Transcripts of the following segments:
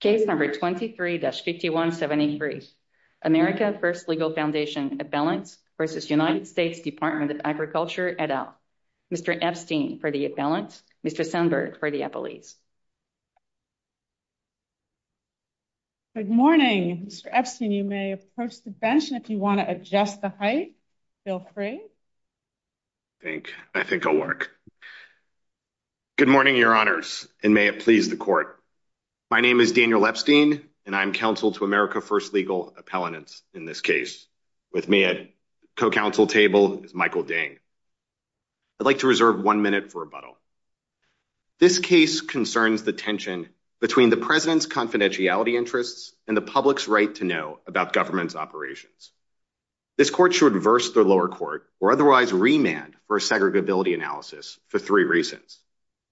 Case No. 23-5173, America First Legal Foundation Appellants v. United States Department of Agriculture et al. Mr. Epstein for the Appellants, Mr. Sandberg for the Appellees. Good morning, Mr. Epstein. You may approach the bench if you want to adjust the height. Feel free. I think I think I'll work. Good morning, your honors, and may it please the court. My name is Daniel Epstein, and I'm counsel to America First Legal Appellants in this case. With me at co-counsel table is Michael Ding. I'd like to reserve one minute for rebuttal. This case concerns the tension between the president's confidentiality interests and the public's right to know about government's operations. This court should reverse the lower court or otherwise remand for a segregability analysis for three reasons.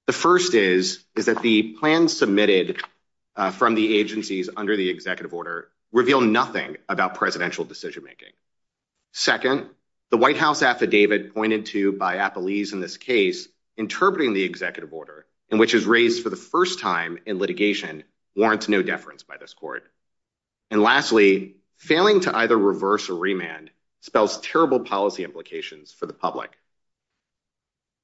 The first is, is that the plan submitted from the agencies under the executive order reveal nothing about presidential decision making. Second, the White House affidavit pointed to by Appellees in this case, interpreting the executive order in which is raised for the first time in litigation warrants no deference by this court. And lastly, failing to either reverse or remand spells terrible policy implications for the public.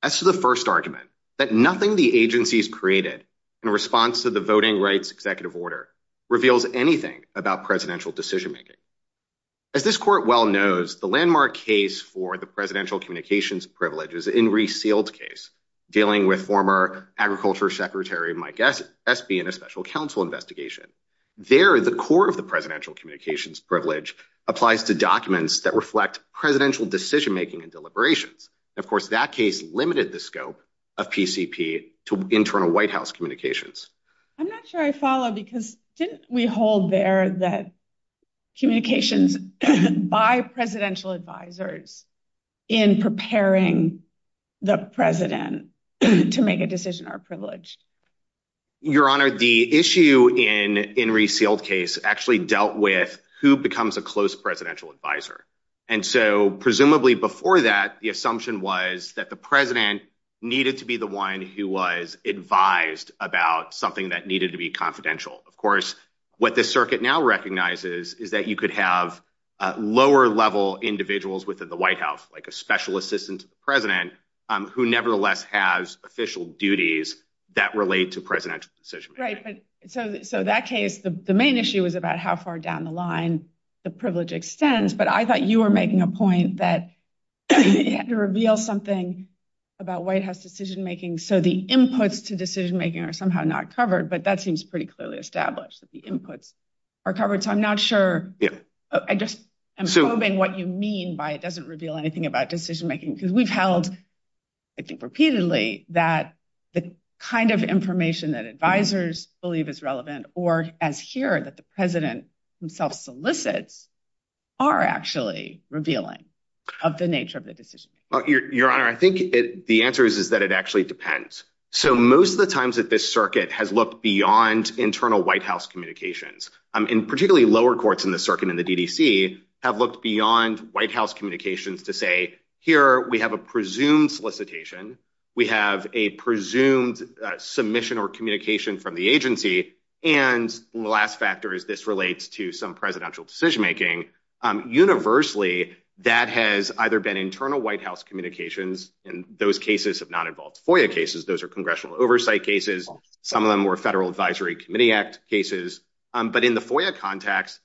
As to the first argument, that nothing the agencies created in response to the voting rights executive order reveals anything about presidential decision making. As this court well knows, the landmark case for the presidential communications privileges in resealed case, dealing with former agriculture secretary Mike SB in a special counsel investigation. There, the core of the presidential communications privilege applies to documents that reflect presidential decision making and deliberations. Of course, that case limited the scope of PCP to internal White House communications. I'm not sure I follow because didn't we hold there that communications by presidential advisors in preparing the president to make a decision are privileged? Your Honor, the issue in in resealed case actually dealt with who becomes a close presidential advisor. And so presumably before that, the assumption was that the president needed to be the one who was advised about something that needed to be confidential. Of course, what the circuit now recognizes is that you could have lower level individuals within the White House, like a special assistant to the president who nevertheless has official duties that relate to presidential decision. Right. So so that case, the main issue is about how far down the line the privilege extends. But I thought you were making a point that you had to reveal something about White House decision making. So the inputs to decision making are somehow not covered. But that seems pretty clearly established that the inputs are covered. So I'm not sure. I just I'm assuming what you mean by it doesn't reveal anything about decision making, because we've held I think repeatedly that the kind of information that advisors believe is relevant or as here that the president himself solicits are actually revealing of the nature of the decision. Your Honor, I think the answer is, is that it actually depends. So most of the times that this circuit has looked beyond internal White House communications, and particularly lower courts in the circuit and the DDC have looked beyond White House communications to say here we have a presumed solicitation. We have a presumed submission or communication from the agency. And the last factor is this relates to some presidential decision making universally that has either been internal White House communications. And those cases have not involved FOIA cases. Those are congressional oversight cases. Some of them were Federal Advisory Committee Act cases. But in the FOIA context,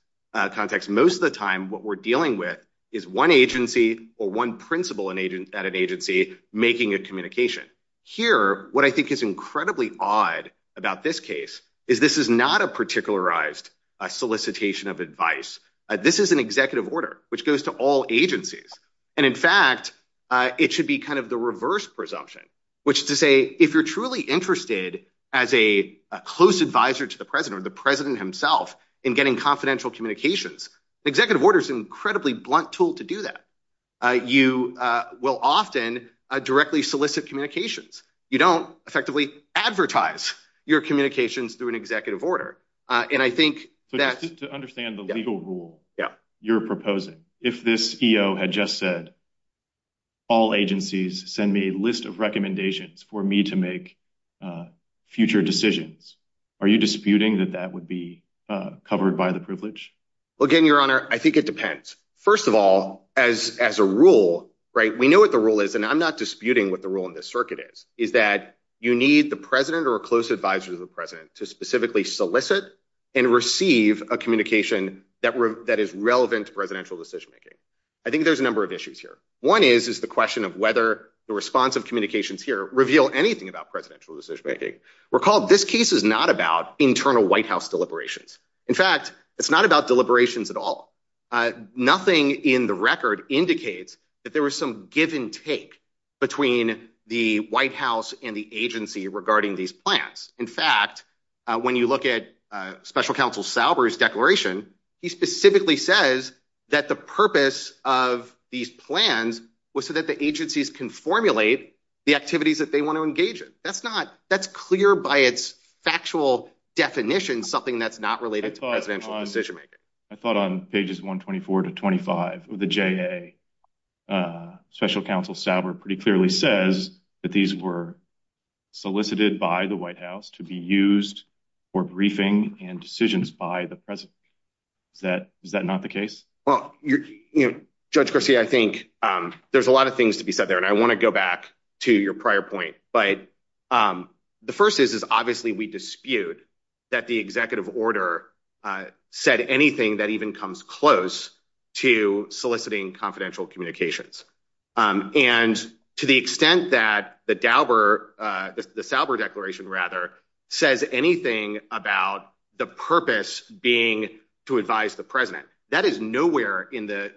most of the time what we're dealing with is one agency or one principal at an agency making a communication. Here, what I think is incredibly odd about this case is this is not a particularized solicitation of advice. This is an executive order which goes to all agencies. And in fact, it should be kind of the reverse presumption, which is to say, if you're truly interested as a close advisor to the president or the president himself in getting confidential communications, executive order is incredibly blunt tool to do that. You will often directly solicit communications. You don't effectively advertise your communications through an executive order. And I think that to understand the legal rule you're proposing, if this EO had just said all agencies send me a list of recommendations for me to make future decisions, are you disputing that that would be covered by the privilege? Well, again, your honor, I think it depends. First of all, as as a rule, right, we know what the rule is and I'm not disputing what the rule in this circuit is, is that you need the president or a close advisor to the president to specifically solicit and receive a communication that is relevant to presidential decision making. I think there's a number of issues here. One is, is the question of whether the response of communications here reveal anything about presidential decision making. Recall, this case is not about internal White House deliberations. In fact, it's not about deliberations at all. Nothing in the record indicates that there was some give and take between the White House and the agency regarding these plans. In fact, when you look at special counsel Sauber's declaration, he specifically says that the purpose of these plans was so that the agencies can formulate the activities that they want to engage in. That's not that's clear by its factual definition, something that's not related to presidential decision making. I thought on pages 124 to 25 of the J.A., special counsel Sauber pretty clearly says that these were solicited by the White House to be used for briefing and decisions by the president. Is that is that not the case? Well, Judge Garcia, I think there's a lot of things to be said there, and I want to go back to your prior point. But the first is, is obviously we dispute that the executive order said anything that even comes close to soliciting confidential communications. And to the extent that the Sauber declaration rather says anything about the purpose being to advise the president, that is nowhere in the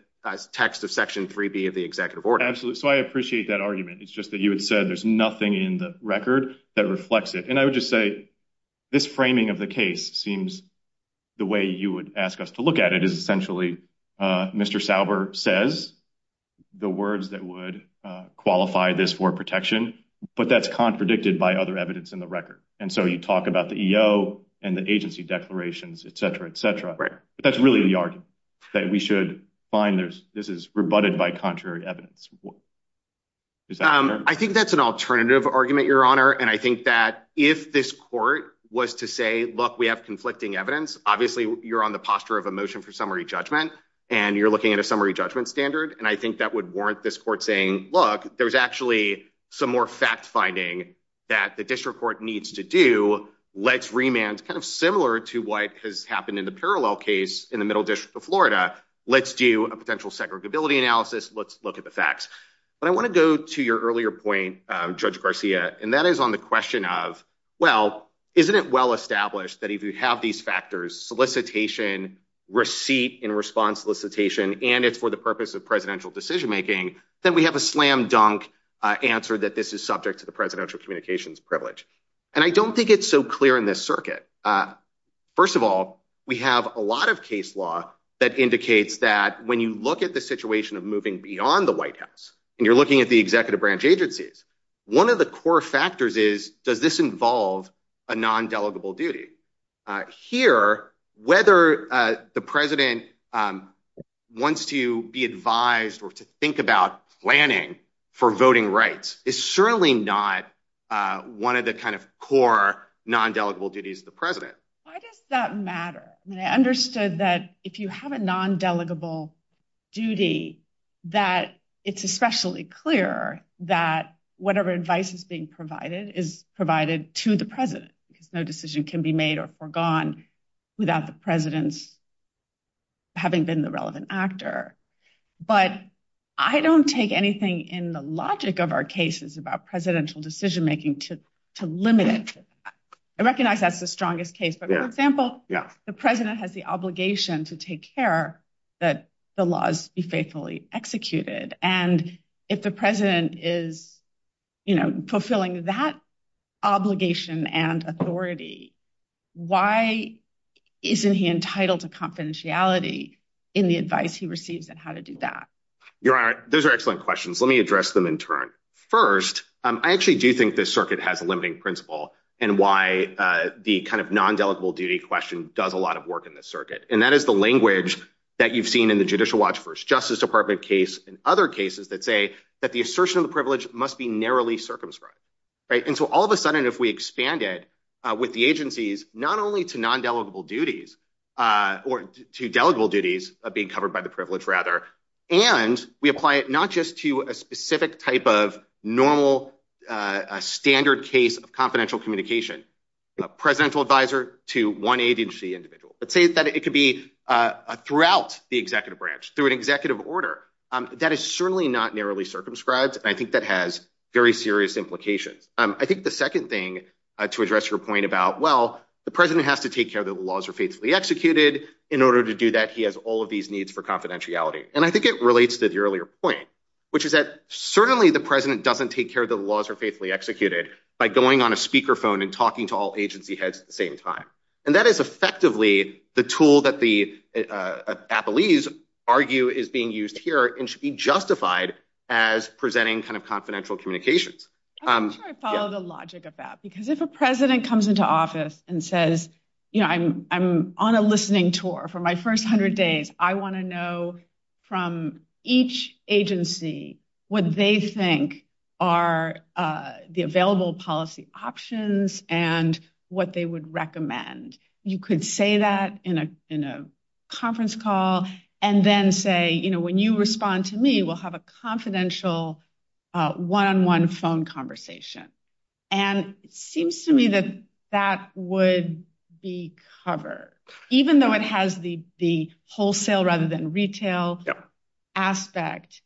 text of Section 3B of the executive order. Absolutely. So I appreciate that argument. It's just that you had said there's nothing in the record that reflects it. And I would just say this framing of the case seems the way you would ask us to look at it is essentially, Mr. Sauber says the words that would qualify this for protection, but that's contradicted by other evidence in the record. And so you talk about the EO and the agency declarations, et cetera, et cetera. But that's really the argument that we should find this is rebutted by contrary evidence. I think that's an alternative argument, your honor. And I think that if this court was to say, look, we have conflicting evidence. Obviously, you're on the posture of a motion for summary judgment and you're looking at a summary judgment standard. And I think that would warrant this court saying, look, there's actually some more fact finding that the district court needs to do. Let's remand kind of similar to what has happened in the parallel case in the Middle District of Florida. Let's do a potential segregability analysis. Let's look at the facts. But I want to go to your earlier point, Judge Garcia, and that is on the question of, well, isn't it well established that if you have these factors, solicitation, receipt and response solicitation, and it's for the purpose of presidential decision making, then we have a slam dunk answer that this is subject to the presidential communications privilege. And I don't think it's so clear in this circuit. First of all, we have a lot of case law that indicates that when you look at the situation of moving beyond the White House and you're looking at the executive branch agencies, one of the core factors is, does this involve a non-delegable duty? Here, whether the president wants to be advised or to think about planning for voting rights is certainly not one of the kind of core non-delegable duties of the president. Why does that matter? I understood that if you have a non-delegable duty, that it's especially clear that whatever advice is being provided is provided to the president because no decision can be made or forgone without the president's having been the relevant actor. But I don't take anything in the logic of our cases about presidential decision making to limit it. I recognize that's the strongest case, but for example, the president has the obligation to take care that the laws be faithfully executed. And if the president is, you know, fulfilling that obligation and authority, why isn't he entitled to confidentiality in the advice he receives and how to do that? Your Honor, those are excellent questions. Let me address them in turn. First, I actually do think this circuit has a limiting principle and why the kind of non-delegable duty question does a lot of work in this circuit. And that is the language that you've seen in the Judicial Watch First Justice Department case and other cases that say that the assertion of the privilege must be narrowly circumscribed. And so all of a sudden, if we expand it with the agencies, not only to non-delegable duties or to delegable duties of being covered by the privilege rather, and we apply it not just to a specific type of normal standard case of confidential communication, presidential advisor to one agency individual, but say that it could be throughout the executive branch through an executive order, that is certainly not narrowly circumscribed. I think that has very serious implications. I think the second thing to address your point about, well, the president has to take care that the laws are faithfully executed. In order to do that, he has all of these needs for confidentiality. And I think it relates to the earlier point, which is that certainly the president doesn't take care of the laws are faithfully executed by going on a speakerphone and talking to all agency heads at the same time. And that is effectively the tool that the appellees argue is being used here and should be justified as presenting kind of confidential communications. I'm sure I follow the logic of that, because if a president comes into office and says, you know, I'm on a listening tour for my first hundred days. I want to know from each agency what they think are the available policy options and what they would recommend. You could say that in a conference call and then say, you know, when you respond to me, we'll have a confidential one-on-one phone conversation. And it seems to me that that would be covered, even though it has the wholesale rather than retail aspect.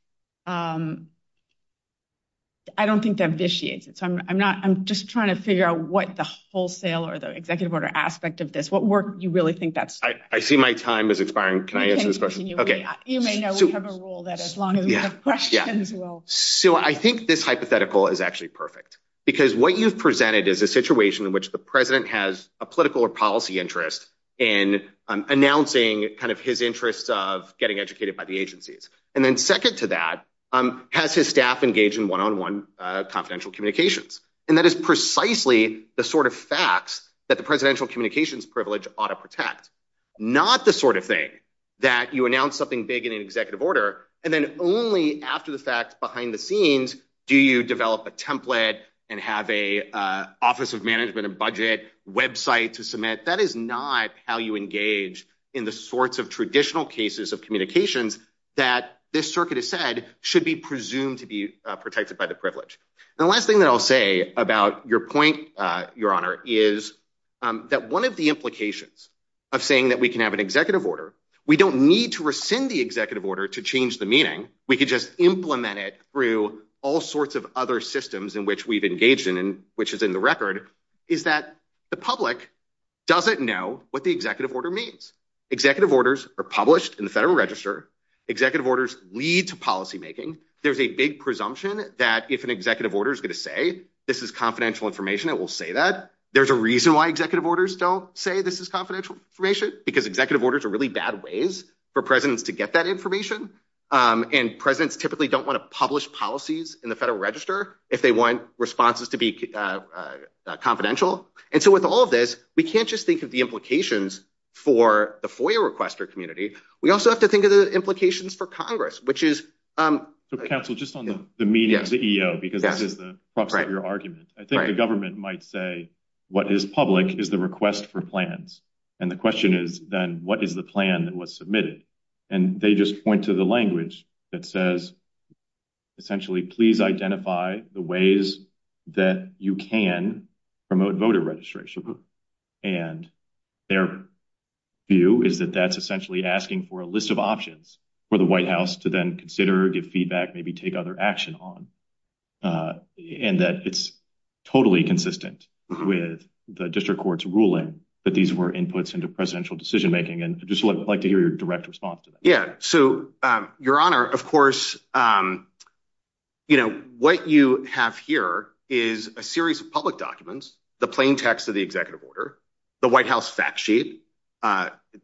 I don't think that vitiates it. So I'm not I'm just trying to figure out what the wholesale or the executive order aspect of this what work you really think that's. I see my time is expiring. Can I answer this question? Okay, you may know we have a rule that as long as you have questions. Well, so I think this hypothetical is actually perfect because what you've presented is a situation in which the president has a political or policy interest in announcing kind of his interest of getting educated by the agencies and then second to that has his staff engaged in one-on-one confidential communications and that is precisely the sort of facts that the presidential communications privilege ought to protect not the sort of thing that you announce something big in an executive order and then only after the fact behind the scenes. Do you develop a template and have a office of management and budget website to submit that is not how you engage in the sorts of traditional cases of communications that this circuit is said should be presumed to be protected by the privilege. The last thing that I'll say about your point your honor is that one of the implications of saying that we can have an executive order. We don't need to rescind the executive order to change the meaning. We could just implement it through all sorts of other systems in which we've engaged in and which is in the record is that the public doesn't know what the executive order means executive orders are published in the Federal Register executive orders lead to policymaking. There's a big presumption that if an executive order is going to say this is confidential information. It will say that there's a reason why executive orders don't say this is confidential information because executive orders are really bad ways for presidents to get that information and presidents typically don't want to publish policies in the Federal Register if they want responses to be confidential. And so with all of this we can't just think of the implications for the foyer requester community. We also have to think of the implications for Congress, which is the council just on the media CEO because this is the proxy of your argument. I think the government might say what is public is the request for plans. And the question is then what is the plan that was submitted and they just point to the language that says essentially, please identify the ways that you can promote voter registration and their view is that that's essentially asking for a list of options for the White House to then consider give feedback maybe take other action on and that it's totally consistent with the district court's ruling that these were inputs into presidential decision-making and just like to hear your direct response to that. Yeah. So your honor, of course, you know what you have here is a series of public documents the plain text of the executive order the White House fact sheet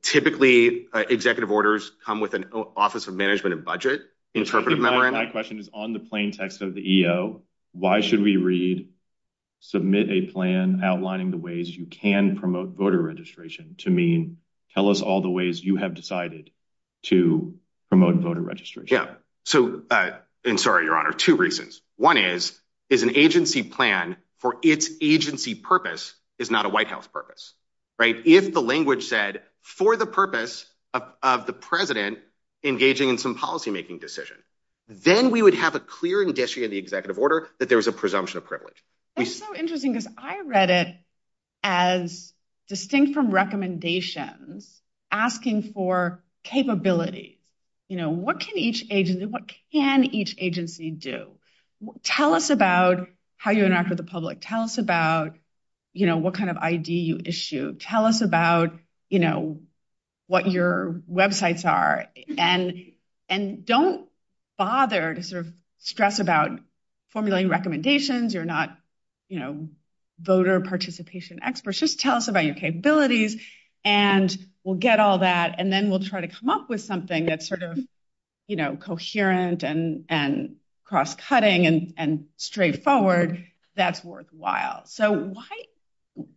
typically executive orders come with an office of management and budget interpretive memorandum. My question is on the plain text of the EO. Why should we read submit a plan outlining the ways you can promote voter registration to mean tell us all the ways you have decided to promote voter registration. Yeah. So and sorry your honor two reasons. One is is an agency plan for its agency purpose is not a White House purpose, right if the language said for the purpose of the president engaging in some policy-making decision, then we would have a clear industry of the executive order that there was a presumption of privilege. It's so interesting because I read it as distinct from recommendations asking for capabilities, you know, what can each agency what can each agency do tell us about how you interact with the public tell us about, you know, what kind of ID you issue tell us about you know, what your websites are and and don't bother to sort of stress about formulating recommendations. You're not, you know voter participation experts. Just tell us about your capabilities and we'll get all that and then we'll try to come up with something that sort of you know, coherent and and cross-cutting and straightforward that's worthwhile. So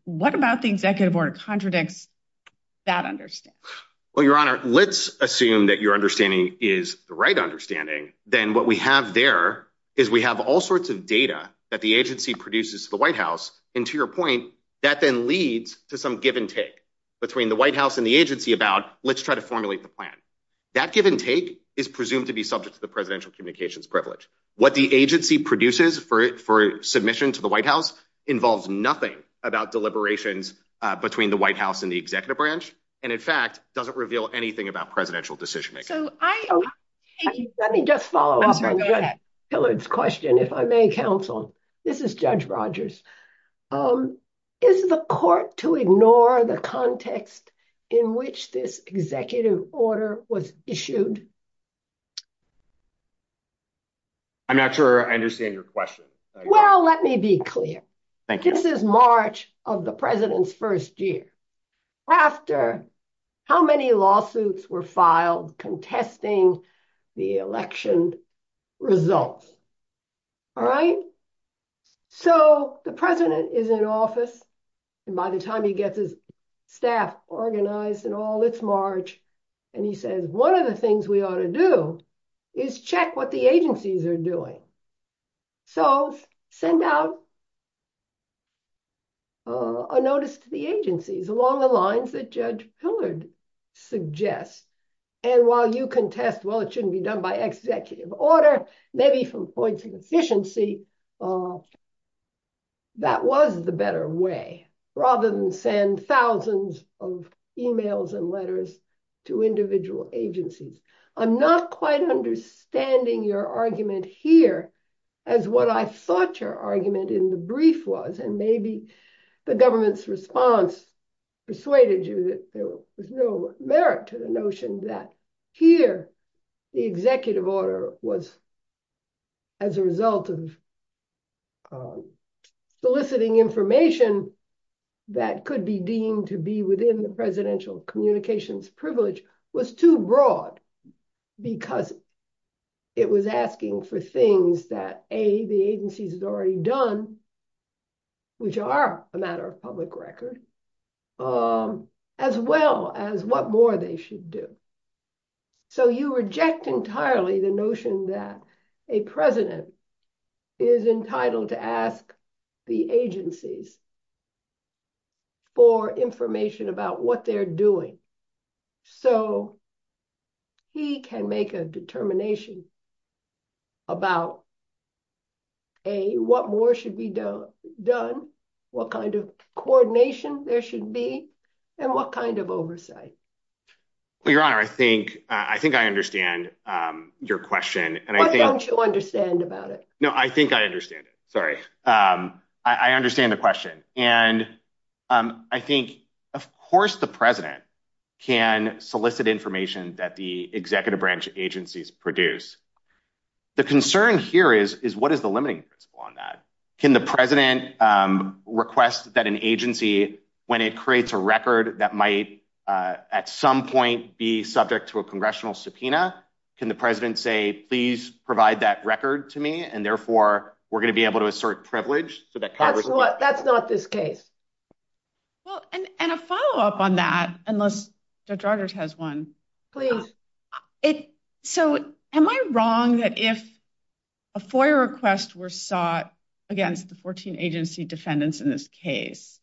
what about the executive order contradicts that understand? Well, your honor, let's assume that your understanding is the right understanding. Then what we have there is we have all sorts of data that the agency produces the White House and to your point that then leads to some give-and-take between the White House and the agency about let's try to formulate the plan. That give-and-take is presumed to be subject to the presidential communications privilege. What the agency produces for it for submission to the White House involves nothing about deliberations between the White House and the executive branch and in fact doesn't reveal anything about presidential decision-making. Let me just follow up on Judge Pillard's question if I may counsel. This is Judge Rogers. Is the court to ignore the context in which this executive order was issued? I'm not sure I understand your question. Well, let me be clear. Thank you. This is March of the president's first year. After how many lawsuits were filed contesting the election results? All right. So the president is in office and by the time he gets his staff organized and all it's March and he says one of the things we ought to do is check what the agencies are doing. So send out a notice to the agencies along the lines that Judge Pillard suggests. And while you contest, well, it shouldn't be done by executive order, maybe from points of efficiency, that was the better way rather than send thousands of emails and letters to individual agencies. I'm not quite understanding your argument here as what I thought your argument in the brief was and maybe the government's response persuaded you that there was no merit to the notion that here the executive order was as a result of soliciting information that could be deemed to be within the presidential communications privilege was too broad because it was asking for things that A, the agencies had already done, which are a matter of public record, as well as what more they should do. So you reject entirely the notion that a president is entitled to ask the agencies for information about what they're doing. So he can make a determination about A, what more should be done, what kind of coordination there should be, and what kind of oversight. Well, Your Honor, I think I understand your question. Why don't you understand about it? No, I think I understand it. Sorry. I understand the question. And I think, of course, the president can solicit information that the executive branch agencies produce. The concern here is what is the limiting principle on that? Can the president request that an agency, when it creates a record that might at some point be subject to a congressional subpoena, can the president say, please provide that record to me? And therefore, we're going to be able to assert privilege. That's not this case. Well, and a follow up on that, unless Judge Rogers has one. Please. So am I wrong that if a FOIA request were sought against the 14 agency defendants in this case,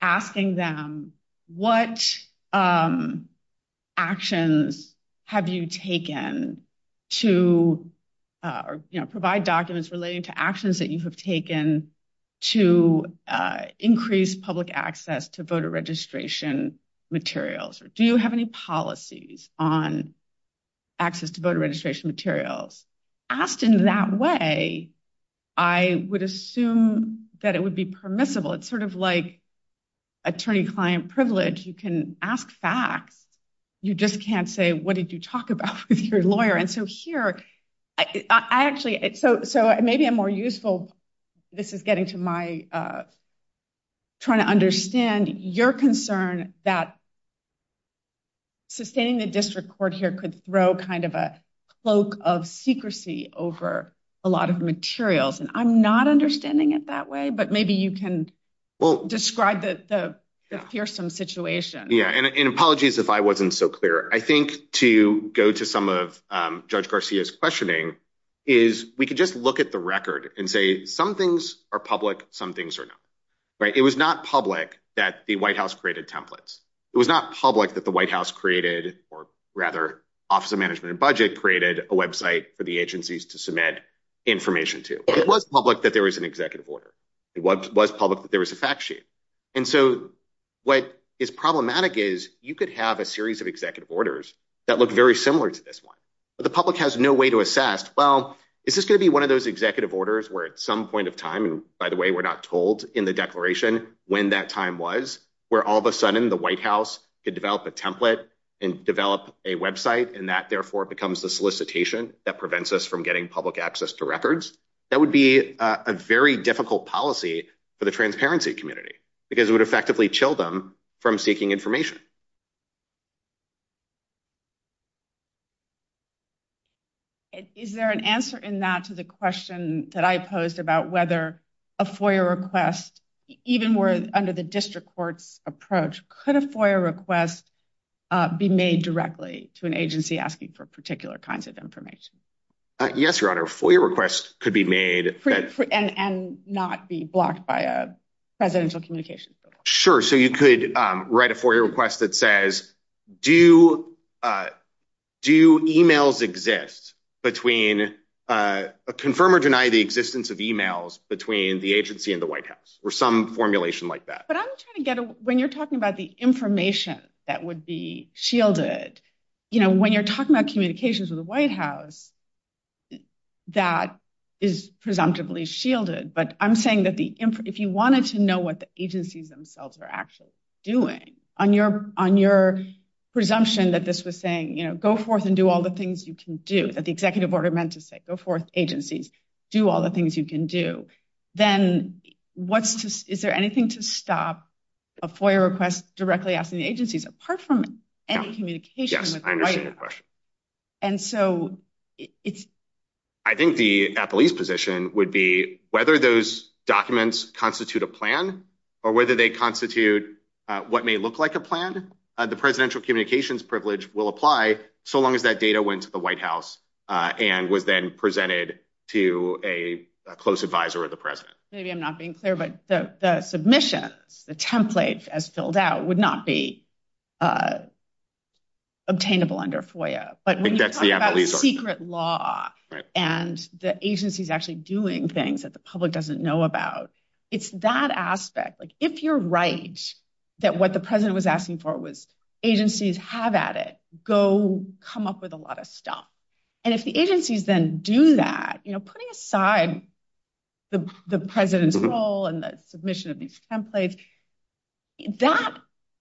asking them what actions have you taken to provide documents relating to actions that you have taken to increase public access to voter registration materials, or do you have any policies on access to voter registration materials, asked in that way, I would assume that it would be permissible. It's sort of like attorney-client privilege. You can ask facts. You just can't say, what did you talk about with your lawyer? And so here, I actually, so maybe I'm more useful. This is getting to my trying to understand your concern that sustaining the district court here could throw kind of a cloak of secrecy over a lot of materials, and I'm not understanding it that way, but maybe you can describe the fearsome situation. Yeah, and apologies if I wasn't so clear. I think to go to some of Judge Garcia's questioning is, we could just look at the record and say, some things are public, some things are not, right? It was not public that the White House created templates. It was not public that the White House created, or rather, Office of Management and Budget created a website for the agencies to submit information to. It was public that there was an executive order. It was public that there was a fact sheet, and so what is problematic is, you could have a series of executive orders that look very similar to this one, but the public has no way to assess, well, is this going to be one of those executive orders where at some point of time, and by the way, we're not told in the declaration when that time was, where all of a sudden the White House could develop a template and develop a website, and that therefore becomes the solicitation that prevents us from getting public access to records. That would be a very difficult policy for the transparency community because it would effectively chill them from seeking information. Is there an answer in that to the question that I posed about whether a FOIA request, even where under the district court's approach, could a FOIA request be made directly to an agency asking for particular kinds of information? Yes, Your Honor, a FOIA request could be made. And not be blocked by a presidential communications bill. Sure, so you could write a FOIA request that says, do emails exist between, confirm or deny the existence of emails between the agency and the White House, or some formulation like that. But I'm trying to get a, when you're talking about the information that would be shielded, you know, when you're talking about communications with the White House, that is presumptively shielded, but I'm saying that if you wanted to know what the agencies themselves are actually doing, on your presumption that this was saying, you know, go forth and do all the things you can do, that the executive order meant to say, go forth, agencies, do all the things you can do, then is there anything to stop a FOIA request directly asking the agencies, apart from any communication with the White House? Yes, I understand your question. And so it's... I think the police position would be whether those documents constitute a plan or whether they constitute what may look like a plan. The presidential communications privilege will apply so long as that data went to the White House and was then presented to a close advisor of the president. Maybe I'm not being clear, but the submissions, the template as filled out, would not be obtainable under FOIA. But when you talk about secret law and the agencies actually doing things that the public doesn't know about, it's that aspect. Like, if you're right, that what the president was asking for was agencies have at it, go come up with a lot of stuff. And if the agencies then do that, you know, putting aside the president's role and the submission of these templates, that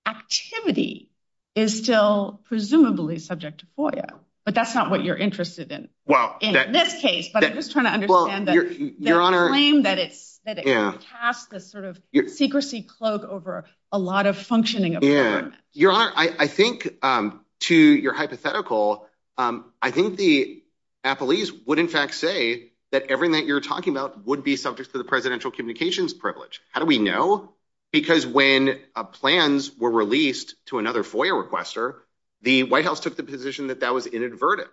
activity is still presumably subject to FOIA, but that's not what you're interested in in this case. But I'm just trying to understand the claim that it casts this sort of secrecy cloak over a lot of functioning of the government. Your Honor, I think to your hypothetical, I think the appellees would in fact say that everything that you're talking about would be subject to the presidential communications privilege. How do we know? Because when plans were released to another FOIA requester, the White House took the position that that was inadvertent.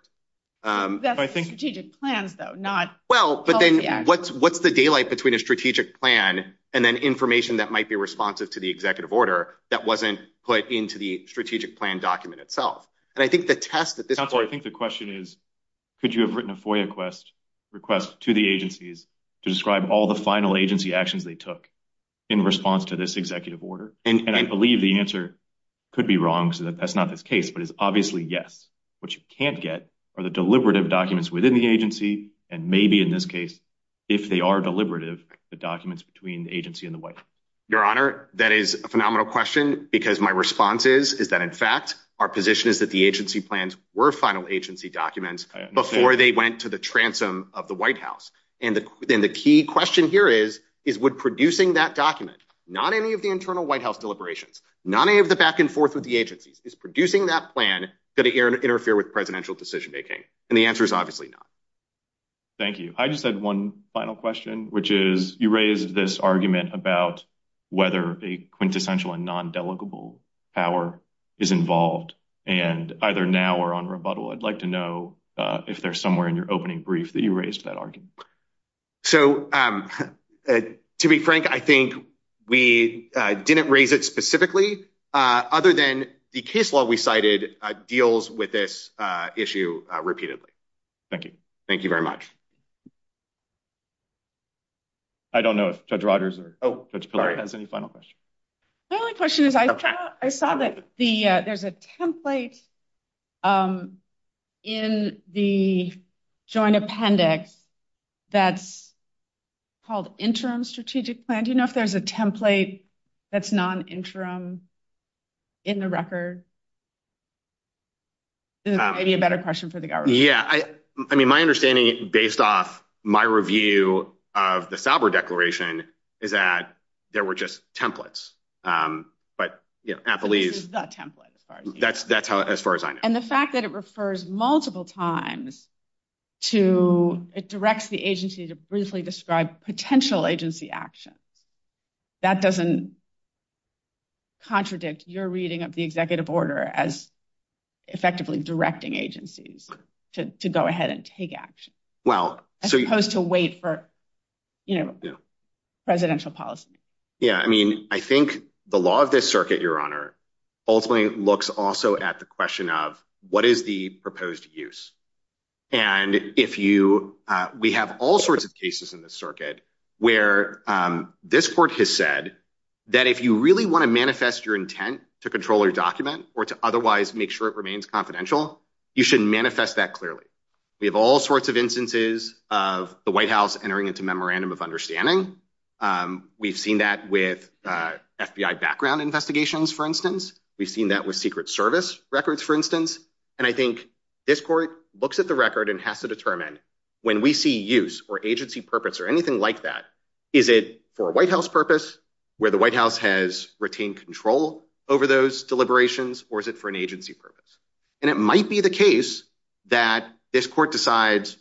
That's the strategic plans though, not- Well, but then what's the daylight between a strategic plan and then information that might be responsive to the executive order that wasn't put into the strategic plan document itself? And I think the test that this- Counselor, I think the question is, could you have written a FOIA request to the agencies to describe all the final agency actions they took in response to this executive order? And I believe the answer could be wrong, so that that's not this case, but it's obviously yes. What you can't get are the deliberative documents within the agency, and maybe in this case, if they are deliberative, the documents between the agency and the White House. Your Honor, that is a phenomenal question because my response is, is that in fact, our position is that the agency plans were final agency documents before they went to the transom of the White House. And the key question here is, is would producing that document, not any of the internal White House deliberations, not any of the back and forth with the agencies, is producing that plan going to interfere with presidential decision-making? And the answer is obviously not. Thank you. I just had one final question, which is, you raised this argument about whether a quintessential and non-delegable power is involved, and either now or on rebuttal, I'd like to know if there's somewhere in your opening brief that you raised that argument. So, to be frank, I think we didn't raise it specifically, other than the case law we cited deals with this issue repeatedly. Thank you. Thank you very much. I don't know if Judge Rogers or Judge Pillard has any final question. My only question is, I saw that there's a template in the joint appendix that's called interim strategic plan. Do you know if there's a template that's non-interim in the record? Maybe a better question for the government. Yeah, I mean, my understanding, based off my review of the Sauber Declaration, is that there were just templates. But, you know, at the least... This is the template, as far as you know. That's as far as I know. And the fact that it refers multiple times to... It directs the agency to briefly describe potential agency actions. That doesn't contradict your reading of the executive order as effectively directing agencies to go ahead and take action, as opposed to wait for, you know, presidential policy. Yeah, I mean, I think the law of this circuit, Your Honor, ultimately looks also at the question of what is the proposed use. And if you... We have all sorts of cases in this circuit where this court has said that if you really want to manifest your intent to control your document or to otherwise make sure it remains confidential, you should manifest that clearly. We have all sorts of instances of the White House entering into memorandum of understanding. We've seen that with FBI background investigations, for instance. We've seen that with Secret Service records, for instance. And I think this court looks at the record and has to determine when we see use or agency purpose or anything like that. Is it for a White House purpose, where the White House has retained control over those deliberations, or is it for an agency purpose? And it might be the case that this court decides,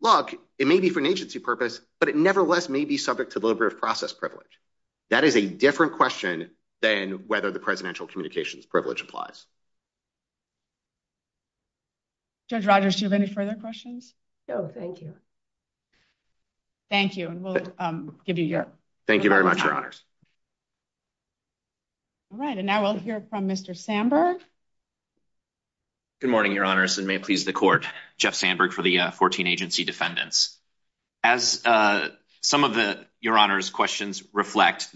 look, it may be for an agency purpose, but it nevertheless may be subject to deliberative process privilege. That is a different question than whether the presidential communications privilege applies. Judge Rogers, do you have any further questions? No, thank you. Thank you, and we'll give you your- Thank you very much, Your Honors. All right, and now we'll hear from Mr. Sandberg. Good morning, Your Honors, and may it please the court, Jeff Sandberg for the 14 agency defendants. As some of the, Your Honors, questions reflect,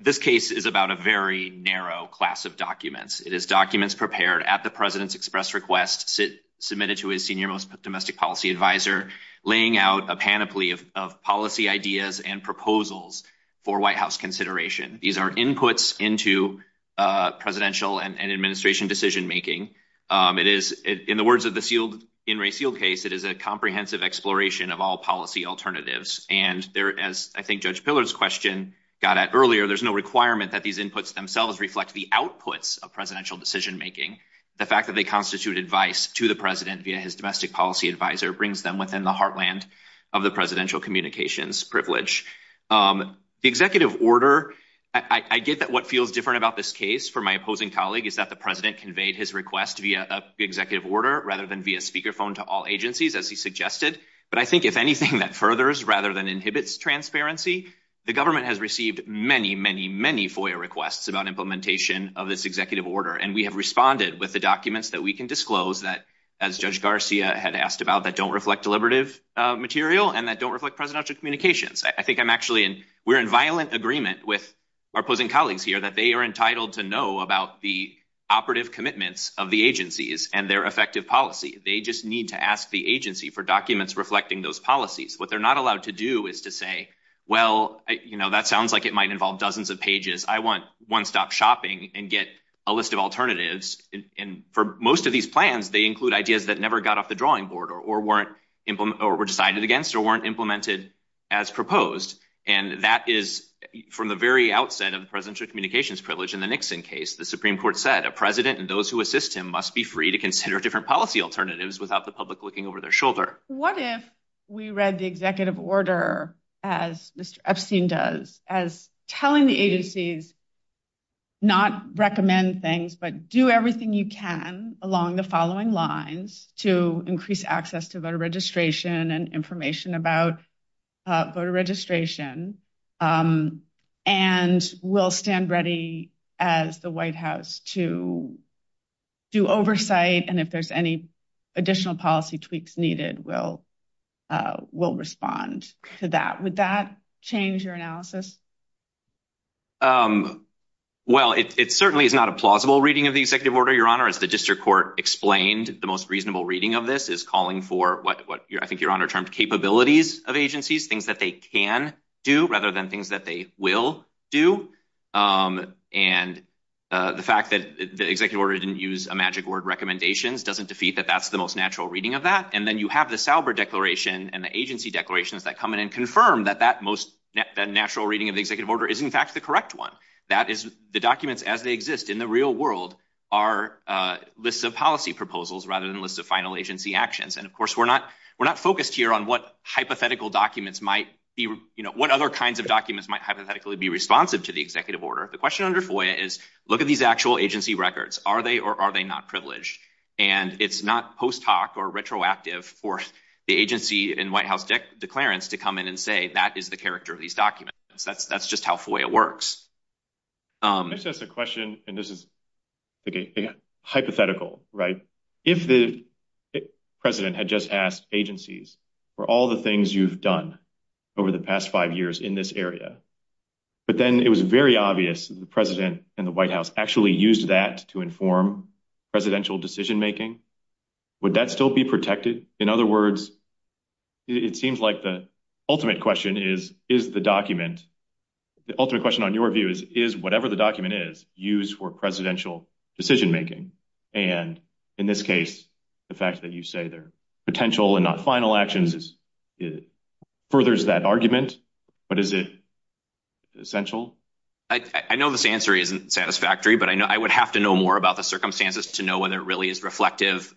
this case is about a very narrow class of documents. It is documents prepared at the president's express request, submitted to his senior most domestic policy advisor, laying out a panoply of policy ideas and proposals for White House consideration. These are inputs into presidential and administration decision-making. It is, in the words of the Sealed In Re Sealed case, it is a comprehensive exploration of all policy alternatives. And there, as I think Judge Pillard's question got at earlier, there's no requirement that these inputs themselves reflect the outputs of presidential decision-making. The fact that they constitute advice to the president via his domestic policy advisor brings them within the heartland of the presidential communications privilege. The executive order, I get that what feels different about this case for my opposing colleague is that the president conveyed his request via executive order, rather than via speakerphone to all agencies, as he suggested. But I think if anything that furthers rather than inhibits transparency, the government has received many, many, many FOIA requests about implementation of this executive order. And we have responded with the documents that we can disclose that, as Judge Garcia had asked about, that don't reflect deliberative material and that don't reflect presidential communications. I think I'm actually in, we're in violent agreement with our opposing colleagues here that they are entitled to know about the operative commitments of the agencies and their effective policy. They just need to ask the agency for documents reflecting those policies. What they're not allowed to do is to say, well, that sounds like it might involve dozens of pages. I want one-stop shopping and get a list of alternatives. And for most of these plans, they include ideas that never got off the drawing board or were decided against or weren't implemented as proposed. And that is from the very outset of the presidential communications privilege in the Nixon case, the Supreme Court said, a president and those who assist him must be free to consider different policy alternatives without the public looking over their shoulder. What if we read the executive order as Mr. Epstein does, as telling the agencies not recommend things, but do everything you can along the following lines to increase access to voter registration and information about voter registration and we'll stand ready as the White House to do oversight. And if there's any additional policy tweaks needed, we'll respond to that. Would that change your analysis? Well, it certainly is not a plausible reading of the executive order, Your Honor. As the district court explained, the most reasonable reading of this is calling for what I think Your Honor termed capabilities of agencies, things that they can do rather than things that they will do. And the fact that the executive order didn't use a magic word, recommendations, doesn't defeat that that's the most natural reading of that. And then you have the Sauber Declaration and the agency declarations that come in and confirm that that most natural reading of the executive order is in fact the correct one. That is the documents as they exist in the real world are lists of policy proposals rather than lists of final agency actions. And of course, we're not focused here on what other kinds of documents might hypothetically be responsive to the executive order. The question under FOIA is, look at these actual agency records. Are they or are they not privileged? And it's not post hoc or retroactive for the agency and White House declarants to come in and say that is the character of these documents. That's just how FOIA works. It's just a question, and this is hypothetical, right? If the president had just asked agencies for all the things you've done over the past five years in this area, but then it was very obvious the president and the White House actually used that to inform presidential decision making. Would that still be protected? In other words, it seems like the ultimate question is the document. The ultimate question on your view is whatever the document is used for presidential decision making. And in this case, the fact that you say their potential and not final actions furthers that argument, but is it essential? I know this answer isn't satisfactory, but I know I would have to know more about the circumstances to know whether it really is reflective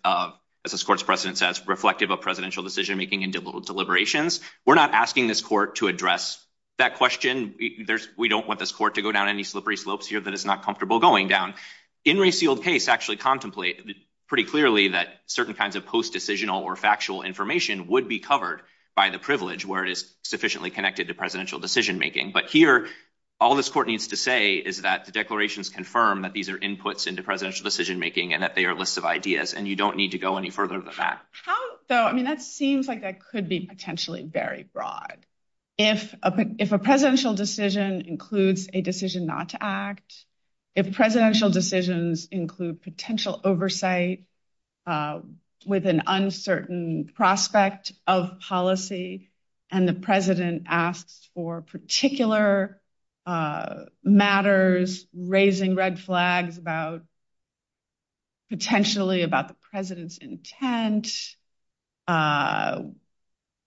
as this court's president says, reflective of presidential decision making and deliberations. We're not asking this court to address that question. We don't want this court to go down any slippery slopes here that it's not comfortable going down. In Ray Seald's case, actually contemplate pretty clearly that certain kinds of post-decisional or factual information would be covered by the privilege where it is sufficiently connected to presidential decision making. But here, all this court needs to say is that the declarations confirm that these are inputs into presidential decision making and that they are lists of ideas and you don't need to go any further than that. How, though? I mean, that seems like that could be potentially very broad. If a presidential decision includes a decision not to act, if presidential decisions include potential oversight with an uncertain prospect of policy and the president asks for particular matters, raising red flags about potentially about the president's intent,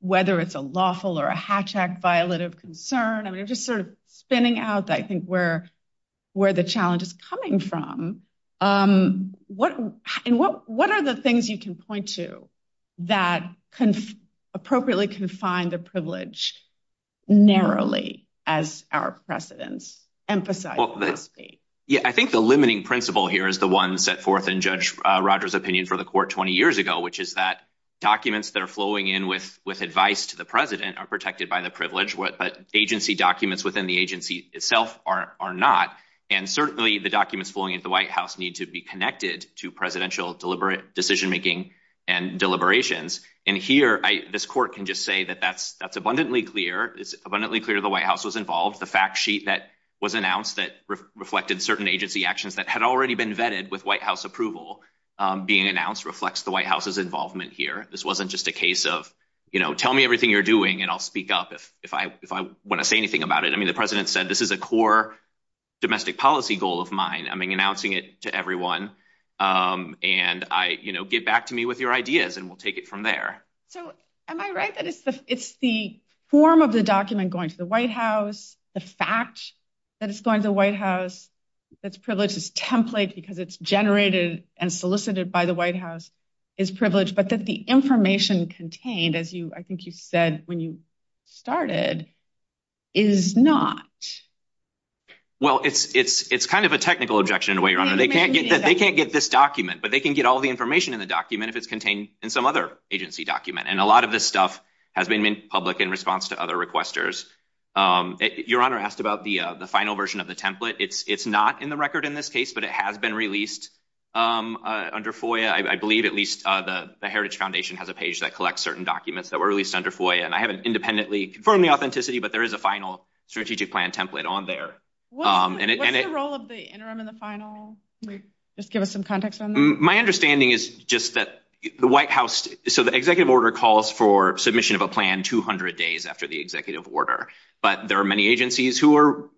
whether it's a lawful or a hatch act, violative concern. I mean, it's just sort of spinning out that I think where where the challenge is coming from. What and what what are the things you can point to that can appropriately confine the privilege narrowly as our precedents emphasize? Yeah, I think the limiting principle here is the one set forth in Judge Rogers opinion for the court 20 years ago, which is that documents that are flowing in with with advice to the president are protected by the privilege. But agency documents within the agency itself are not. And certainly the documents flowing into the White House need to be connected to presidential deliberate decision making and deliberations. And here this court can just say that that's that's abundantly clear. It's abundantly clear the White House was involved. The fact sheet that was announced that reflected certain agency actions that had already been vetted with White House approval being announced reflects the White House's involvement here. This wasn't just a case of, you know, tell me everything you're doing and I'll speak up if if I if I want to say anything about it. I mean, the president said this is a core domestic policy goal of mine. I mean, announcing it to everyone and I, you know, get back to me with your ideas and we'll take it from there. So am I right that it's the it's the form of the document going to the White House? The fact that it's going to the White House that's privileged is template because it's generated and solicited by the White House is privileged but that the information contained as you I think you said when you started is not. Well, it's it's it's kind of a technical objection to what you're on and they can't get that they can't get this document, but they can get all the information in the document if it's contained in some other agency document and a lot of this stuff has been made public in response to other requesters your honor asked about the final version of the template. It's it's not in the record in this case, but it has been released under FOIA. I believe at least the Heritage Foundation has a page that collects certain documents that were released under FOIA and I haven't independently confirmed the authenticity, but there is a final strategic plan template on there and it role of the interim and the final just give us some context on my understanding is just that the White House so the executive order calls for submission of a plan 200 days after the executive order but there are many agencies who are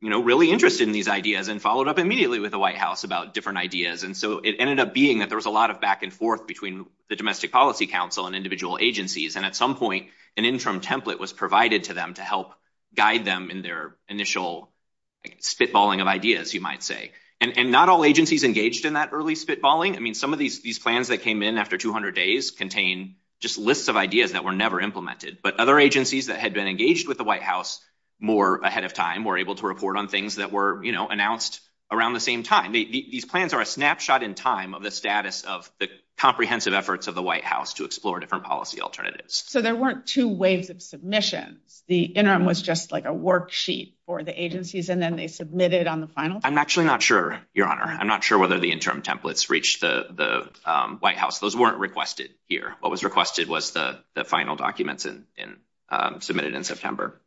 you know really interested in these ideas and followed up immediately with the White House about different ideas and so it ended up being that there was a lot of back and forth between the Domestic Policy Council and individual agencies and at some point an interim template was provided to them to help guide them in their initial spitballing of ideas you might say and not all agencies engaged in that early spitballing. I mean some of these these plans that came in after 200 days contain just lists of ideas that were never implemented but other agencies that had been engaged with the White House more ahead of time were able to report on things that were you know announced around the same time. These plans are a snapshot in time of the status of the comprehensive efforts of the White House to explore different policy alternatives. So there weren't two waves of submissions. The interim was just like a worksheet for the agencies and then they submitted on the final. I'm actually not sure your honor. I'm not sure whether the interim templates reach the White House. Those weren't requested here. What was requested was the final documents and submitted in September.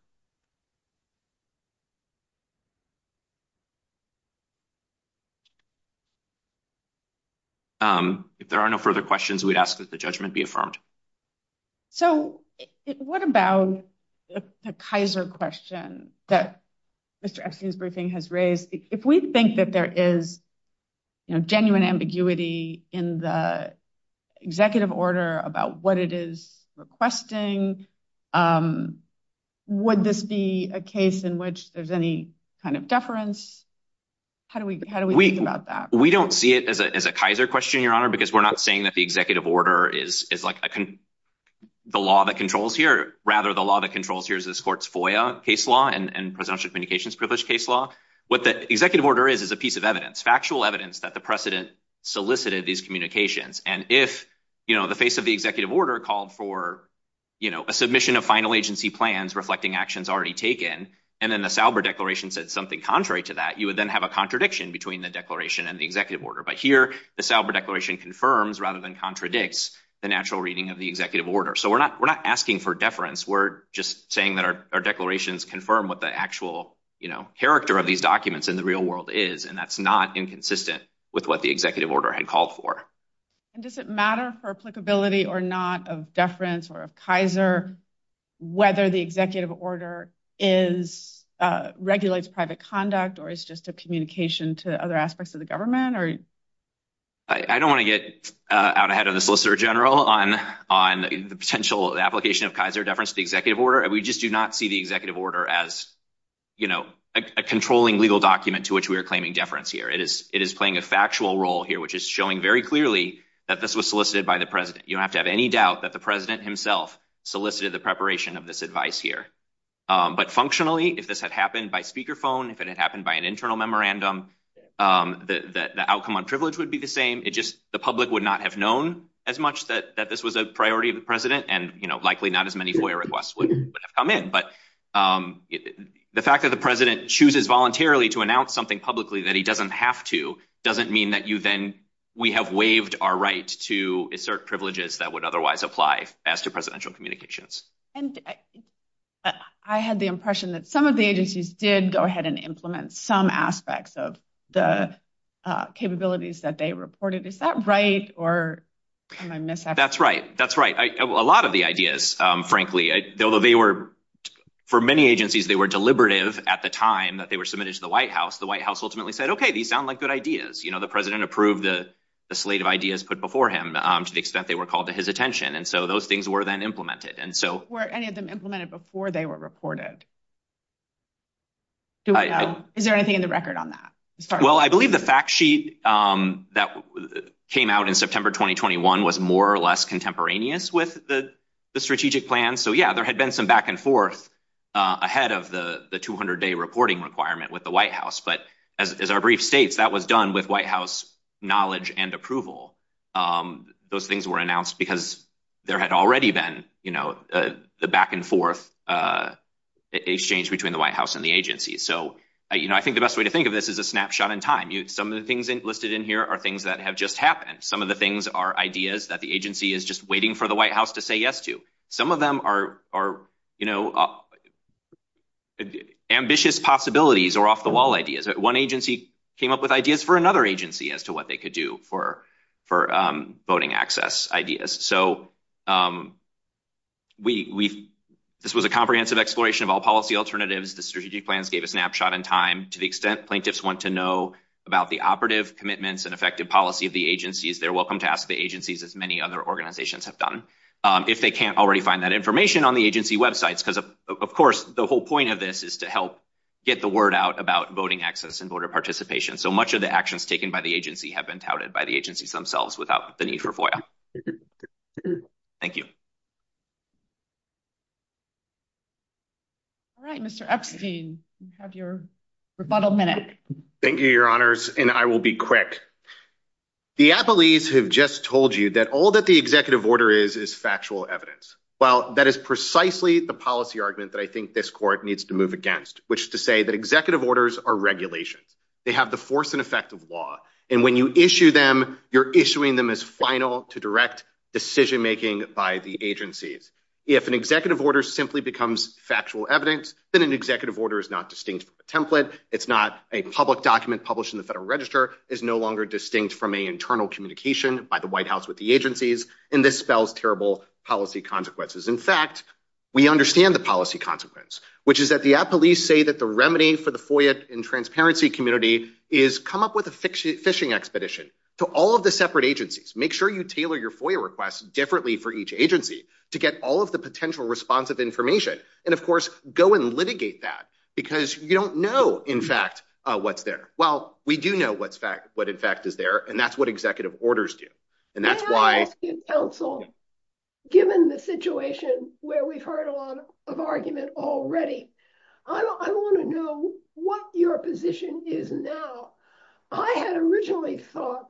If there are no further questions we'd ask that the judgment be affirmed. So what about the Kaiser question that Mr. Epstein's briefing has raised if we think that there is a genuine ambiguity in the executive order about what it is requesting. Would this be a case in which there's any kind of deference? How do we think about that? We don't see it as a Kaiser question your honor because we're not saying that the executive order is like the law that controls here. Rather the law that controls here is this court's FOIA case law and presidential communications privilege case law. What the executive order is is a piece of evidence factual evidence that the precedent solicited these communications and if the face of the executive order called for a submission of final agency plans reflecting actions already taken and then the Sauber declaration said something contrary to that you would then have a contradiction between the declaration and the executive order. But here the Sauber declaration confirms rather than contradicts the natural reading of the executive order. So we're not asking for deference. We're just saying that our declarations confirm what the actual character of these documents in the real world is and that's not inconsistent with what the executive order had called for. And does it matter for applicability or not of deference or of Kaiser whether the executive order is regulates private conduct or is just a communication to other aspects of the government or I don't want to get out ahead of the Solicitor General on on the potential application of Kaiser deference to the executive order. We just do not see the executive order as you know a controlling legal document to which we are claiming deference here. It is it is playing a factual role here which is showing very clearly that this was solicited by the president. You don't have to have any doubt that the president himself solicited the preparation of this advice here. But functionally if this had happened by speaker phone if it had happened by an internal memorandum that the outcome on privilege would be the same. It just the public would not have known as much that this was a priority of the and you know likely not as many FOIA requests would have come in but the fact that the president chooses voluntarily to announce something publicly that he doesn't have to doesn't mean that you then we have waived our right to assert privileges that would otherwise apply as to presidential communications and I had the impression that some of the agencies did go ahead and implement some aspects of the capabilities that they reported. Is that right or am I mis-expressing? That's right. That's right. A lot of the ideas frankly though they were for many agencies they were deliberative at the time that they were submitted to the White House. The White House ultimately said okay these sound like good ideas. You know the president approved the slate of ideas put before him to the extent they were called to his attention and so those things were then implemented and so were any of them implemented before they were reported? Is there anything in the record on that? Well I believe the fact sheet that came out in September 2021 was more or less contemporaneous with the strategic plan. So yeah there had been some back and forth ahead of the 200 day reporting requirement with the White House but as our brief states that was done with White House knowledge and approval those things were announced because there had already been you know the back and forth exchange between the White House and the agency. So you know I think the best way to think of this is a snapshot in time. Some of the things listed in here are things that have just happened. Some of the things are ideas that the agency is just waiting for the White House to say yes to. Some of them are ambitious possibilities or off the wall ideas. One agency came up with ideas for another agency as to what they could do for voting access ideas. So this was a comprehensive exploration of all policy alternatives. The strategic plans gave a snapshot in time. To the extent plaintiffs want to know about the operative commitments and effective policy of the agencies they're welcome to ask the agencies as many other organizations have done. If they can't already find that information on the agency websites because of course the whole point of this is to help get the word out about voting access and voter participation. So much of the actions taken by the agency have been touted by the agencies themselves without the need for FOIA. Thank you. All right, Mr. Epstein, you have your rebuttal minute. Thank you, Your Honors, and I will be quick. The Applees have just told you that all that the executive order is is factual evidence. Well, that is precisely the policy argument that I think this court needs to move against, which is to say that executive orders are regulations. They have the force and effect of law, and when you issue them, you're issuing them as final to direct decision-making by the agencies. If an executive order simply becomes factual evidence, then an executive order is not distinct from a template. It's not a public document published in the Federal Register, is no longer distinct from an internal communication by the White House with the agencies, and this spells terrible policy consequences. In fact, we understand the policy consequence, which is that the Applees say that the remedy for the FOIA and transparency community is come up with a fishing expedition to all of the separate agencies. Make sure you tailor your FOIA requests differently for each agency to get all of the potential responsive information. And of course, go and litigate that because you don't know, in fact, what's there. Well, we do know what's fact, what in fact is there, and that's what executive orders do. And that's why... May I ask you, counsel, given the situation where we've heard a lot of argument already, I want to know what your position is now. I had originally thought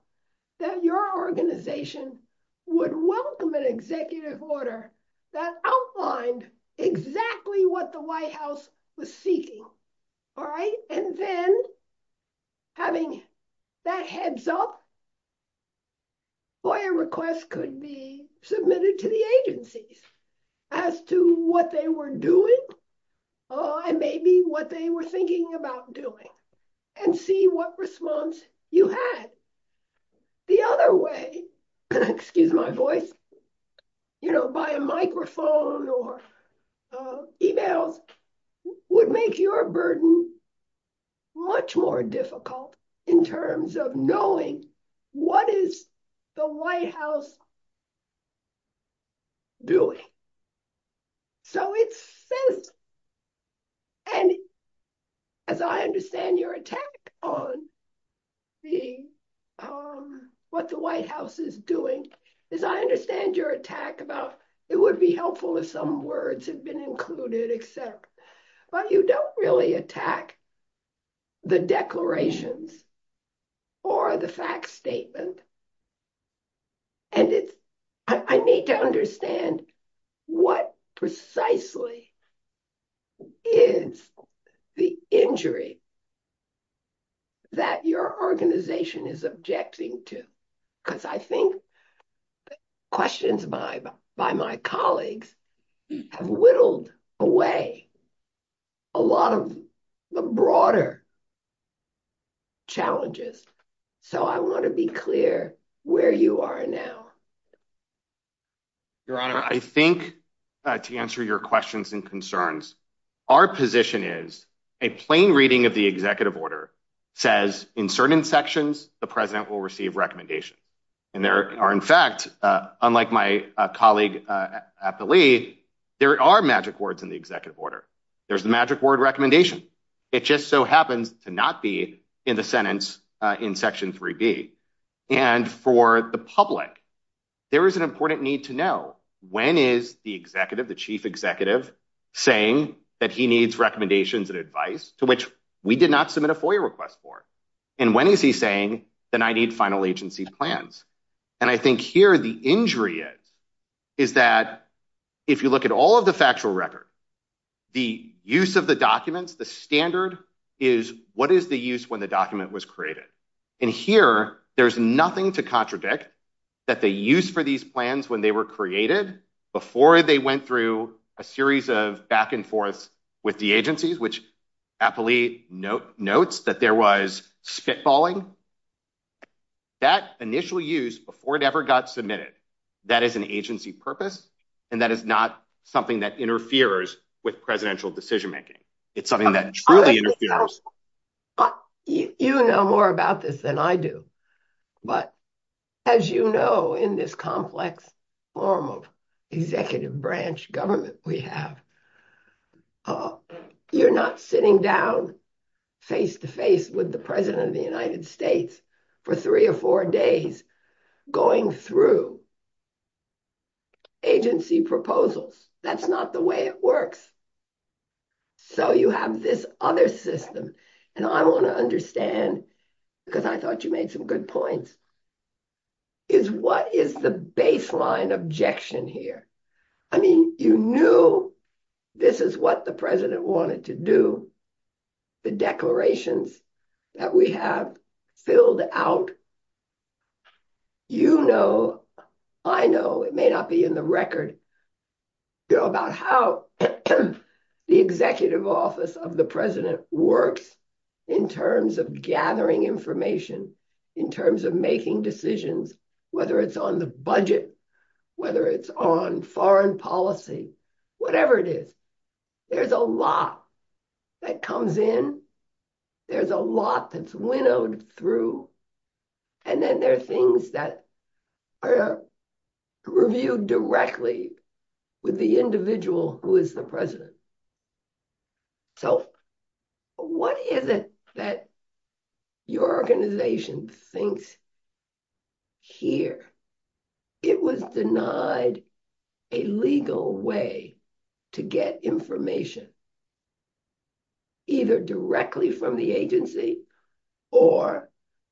that your organization would welcome an executive order that outlined exactly what the White House was seeking. All right, and then having that heads up, FOIA requests could be submitted to the agencies as to what they were doing and maybe what they were thinking about doing and see what response you had. The other way, excuse my voice, you know, by a microphone or emails would make your burden much more difficult in terms of knowing what is the White House doing. So it says, and as I understand your attack on the, what the White House is doing, as I understand your attack about it would be helpful if some words had been included, et cetera. But you don't really attack the declarations or the fact statement. And it's, I need to understand what precisely is the injury that your organization is objecting to. Because I think questions by my colleagues have whittled away a lot of the broader challenges. So I want to be clear where you are now. Your Honor, I think to answer your questions and concerns, our position is a plain reading of the executive order says in certain sections, the president will receive recommendation. And there are in fact, unlike my colleague at the lead, there are magic words in the executive order. There's the magic word recommendation. It just so happens to not be in the sentence in Section 3B. And for the public, there is an important need to know when is the executive, the chief executive saying that he needs recommendations and advice to which we did not submit a FOIA request for. And when is he saying that I need final agency plans? And I think here the injury is, is that if you look at all of the factual record, the use of the documents, the standard is what is the use when the document was created? And here there's nothing to contradict that the use for these plans when they were created before they went through a series of back and forths with the agencies, which happily notes that there was spitballing. That initial use before it ever got submitted, that is an agency purpose. And that is not something that interferes with presidential decision making. It's something that truly interferes. You know more about this than I do. But as you know, in this complex form of executive branch government we have, you're not sitting down face to face with the president of the United States for three or four days going through agency proposals. That's not the way it works. So you have this other system. And I want to understand, because I thought you made some good points, is what is the baseline objection here? I mean, you knew this is what the president wanted to do. The declarations that we have filled out. You know, I know, it may not be in the record, about how the executive office of the president works in terms of gathering information, in terms of making decisions, whether it's on the budget, whether it's on foreign policy, whatever it is, there's a lot that comes in. There's a lot that's winnowed through and then there are things that are reviewed directly with the individual who is the president. So what is it that your organization thinks here? It was denied a legal way to get information, either directly from the agency or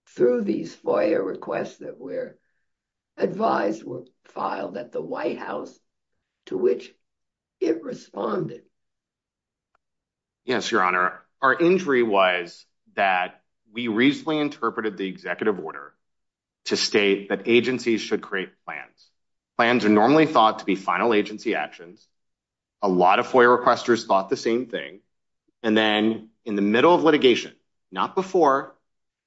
through these FOIA requests that were advised, were filed at the White House, to which it responded. Yes, Your Honor. Our injury was that we reasonably interpreted the executive order to state that agencies should create plans. Plans are normally thought to be final agency actions. A lot of FOIA requesters thought the same thing. And then in the middle of litigation, not before,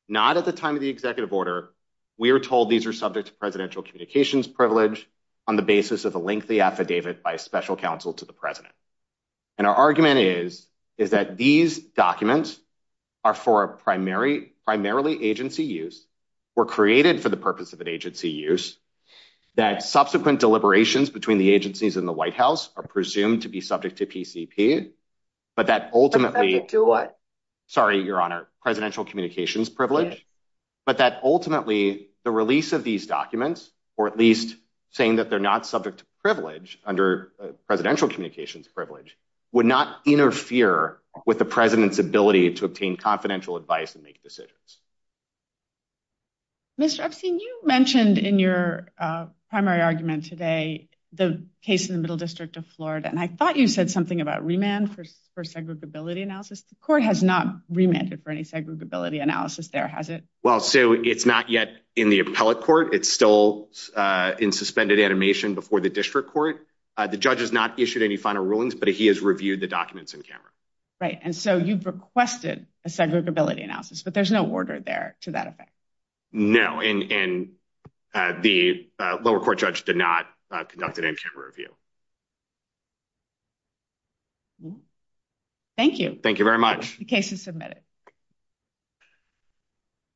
not at the time of the executive order, we were told these are subject to presidential communications privilege on the basis of a lengthy affidavit by a special counsel to the president. And our argument is that these documents are for a primarily agency use, were created for the purpose of an agency use, that subsequent deliberations between the agencies in the White House are presumed to be subject to PCP, but that ultimately... Subject to what? Sorry, Your Honor. Presidential communications privilege. But that ultimately, the release of these documents, or at least saying that they're not subject to privilege under presidential communications privilege, would not interfere with the president's ability to obtain confidential advice and make decisions. Mr. Epstein, you mentioned in your primary argument today the case in the Middle District of Florida, and I thought you said something about remand for segregability analysis. The court has not remanded for any segregability analysis there, has it? Well, Sue, it's not yet in the appellate court. It's still in suspended animation before the district court. The judge has not issued any final rulings, but he has reviewed the documents in camera. Right, and so you've requested a segregability analysis, but there's no order there to that effect. No, and the lower court judge did not conduct an in-camera review. Thank you. Thank you very much. The case is submitted.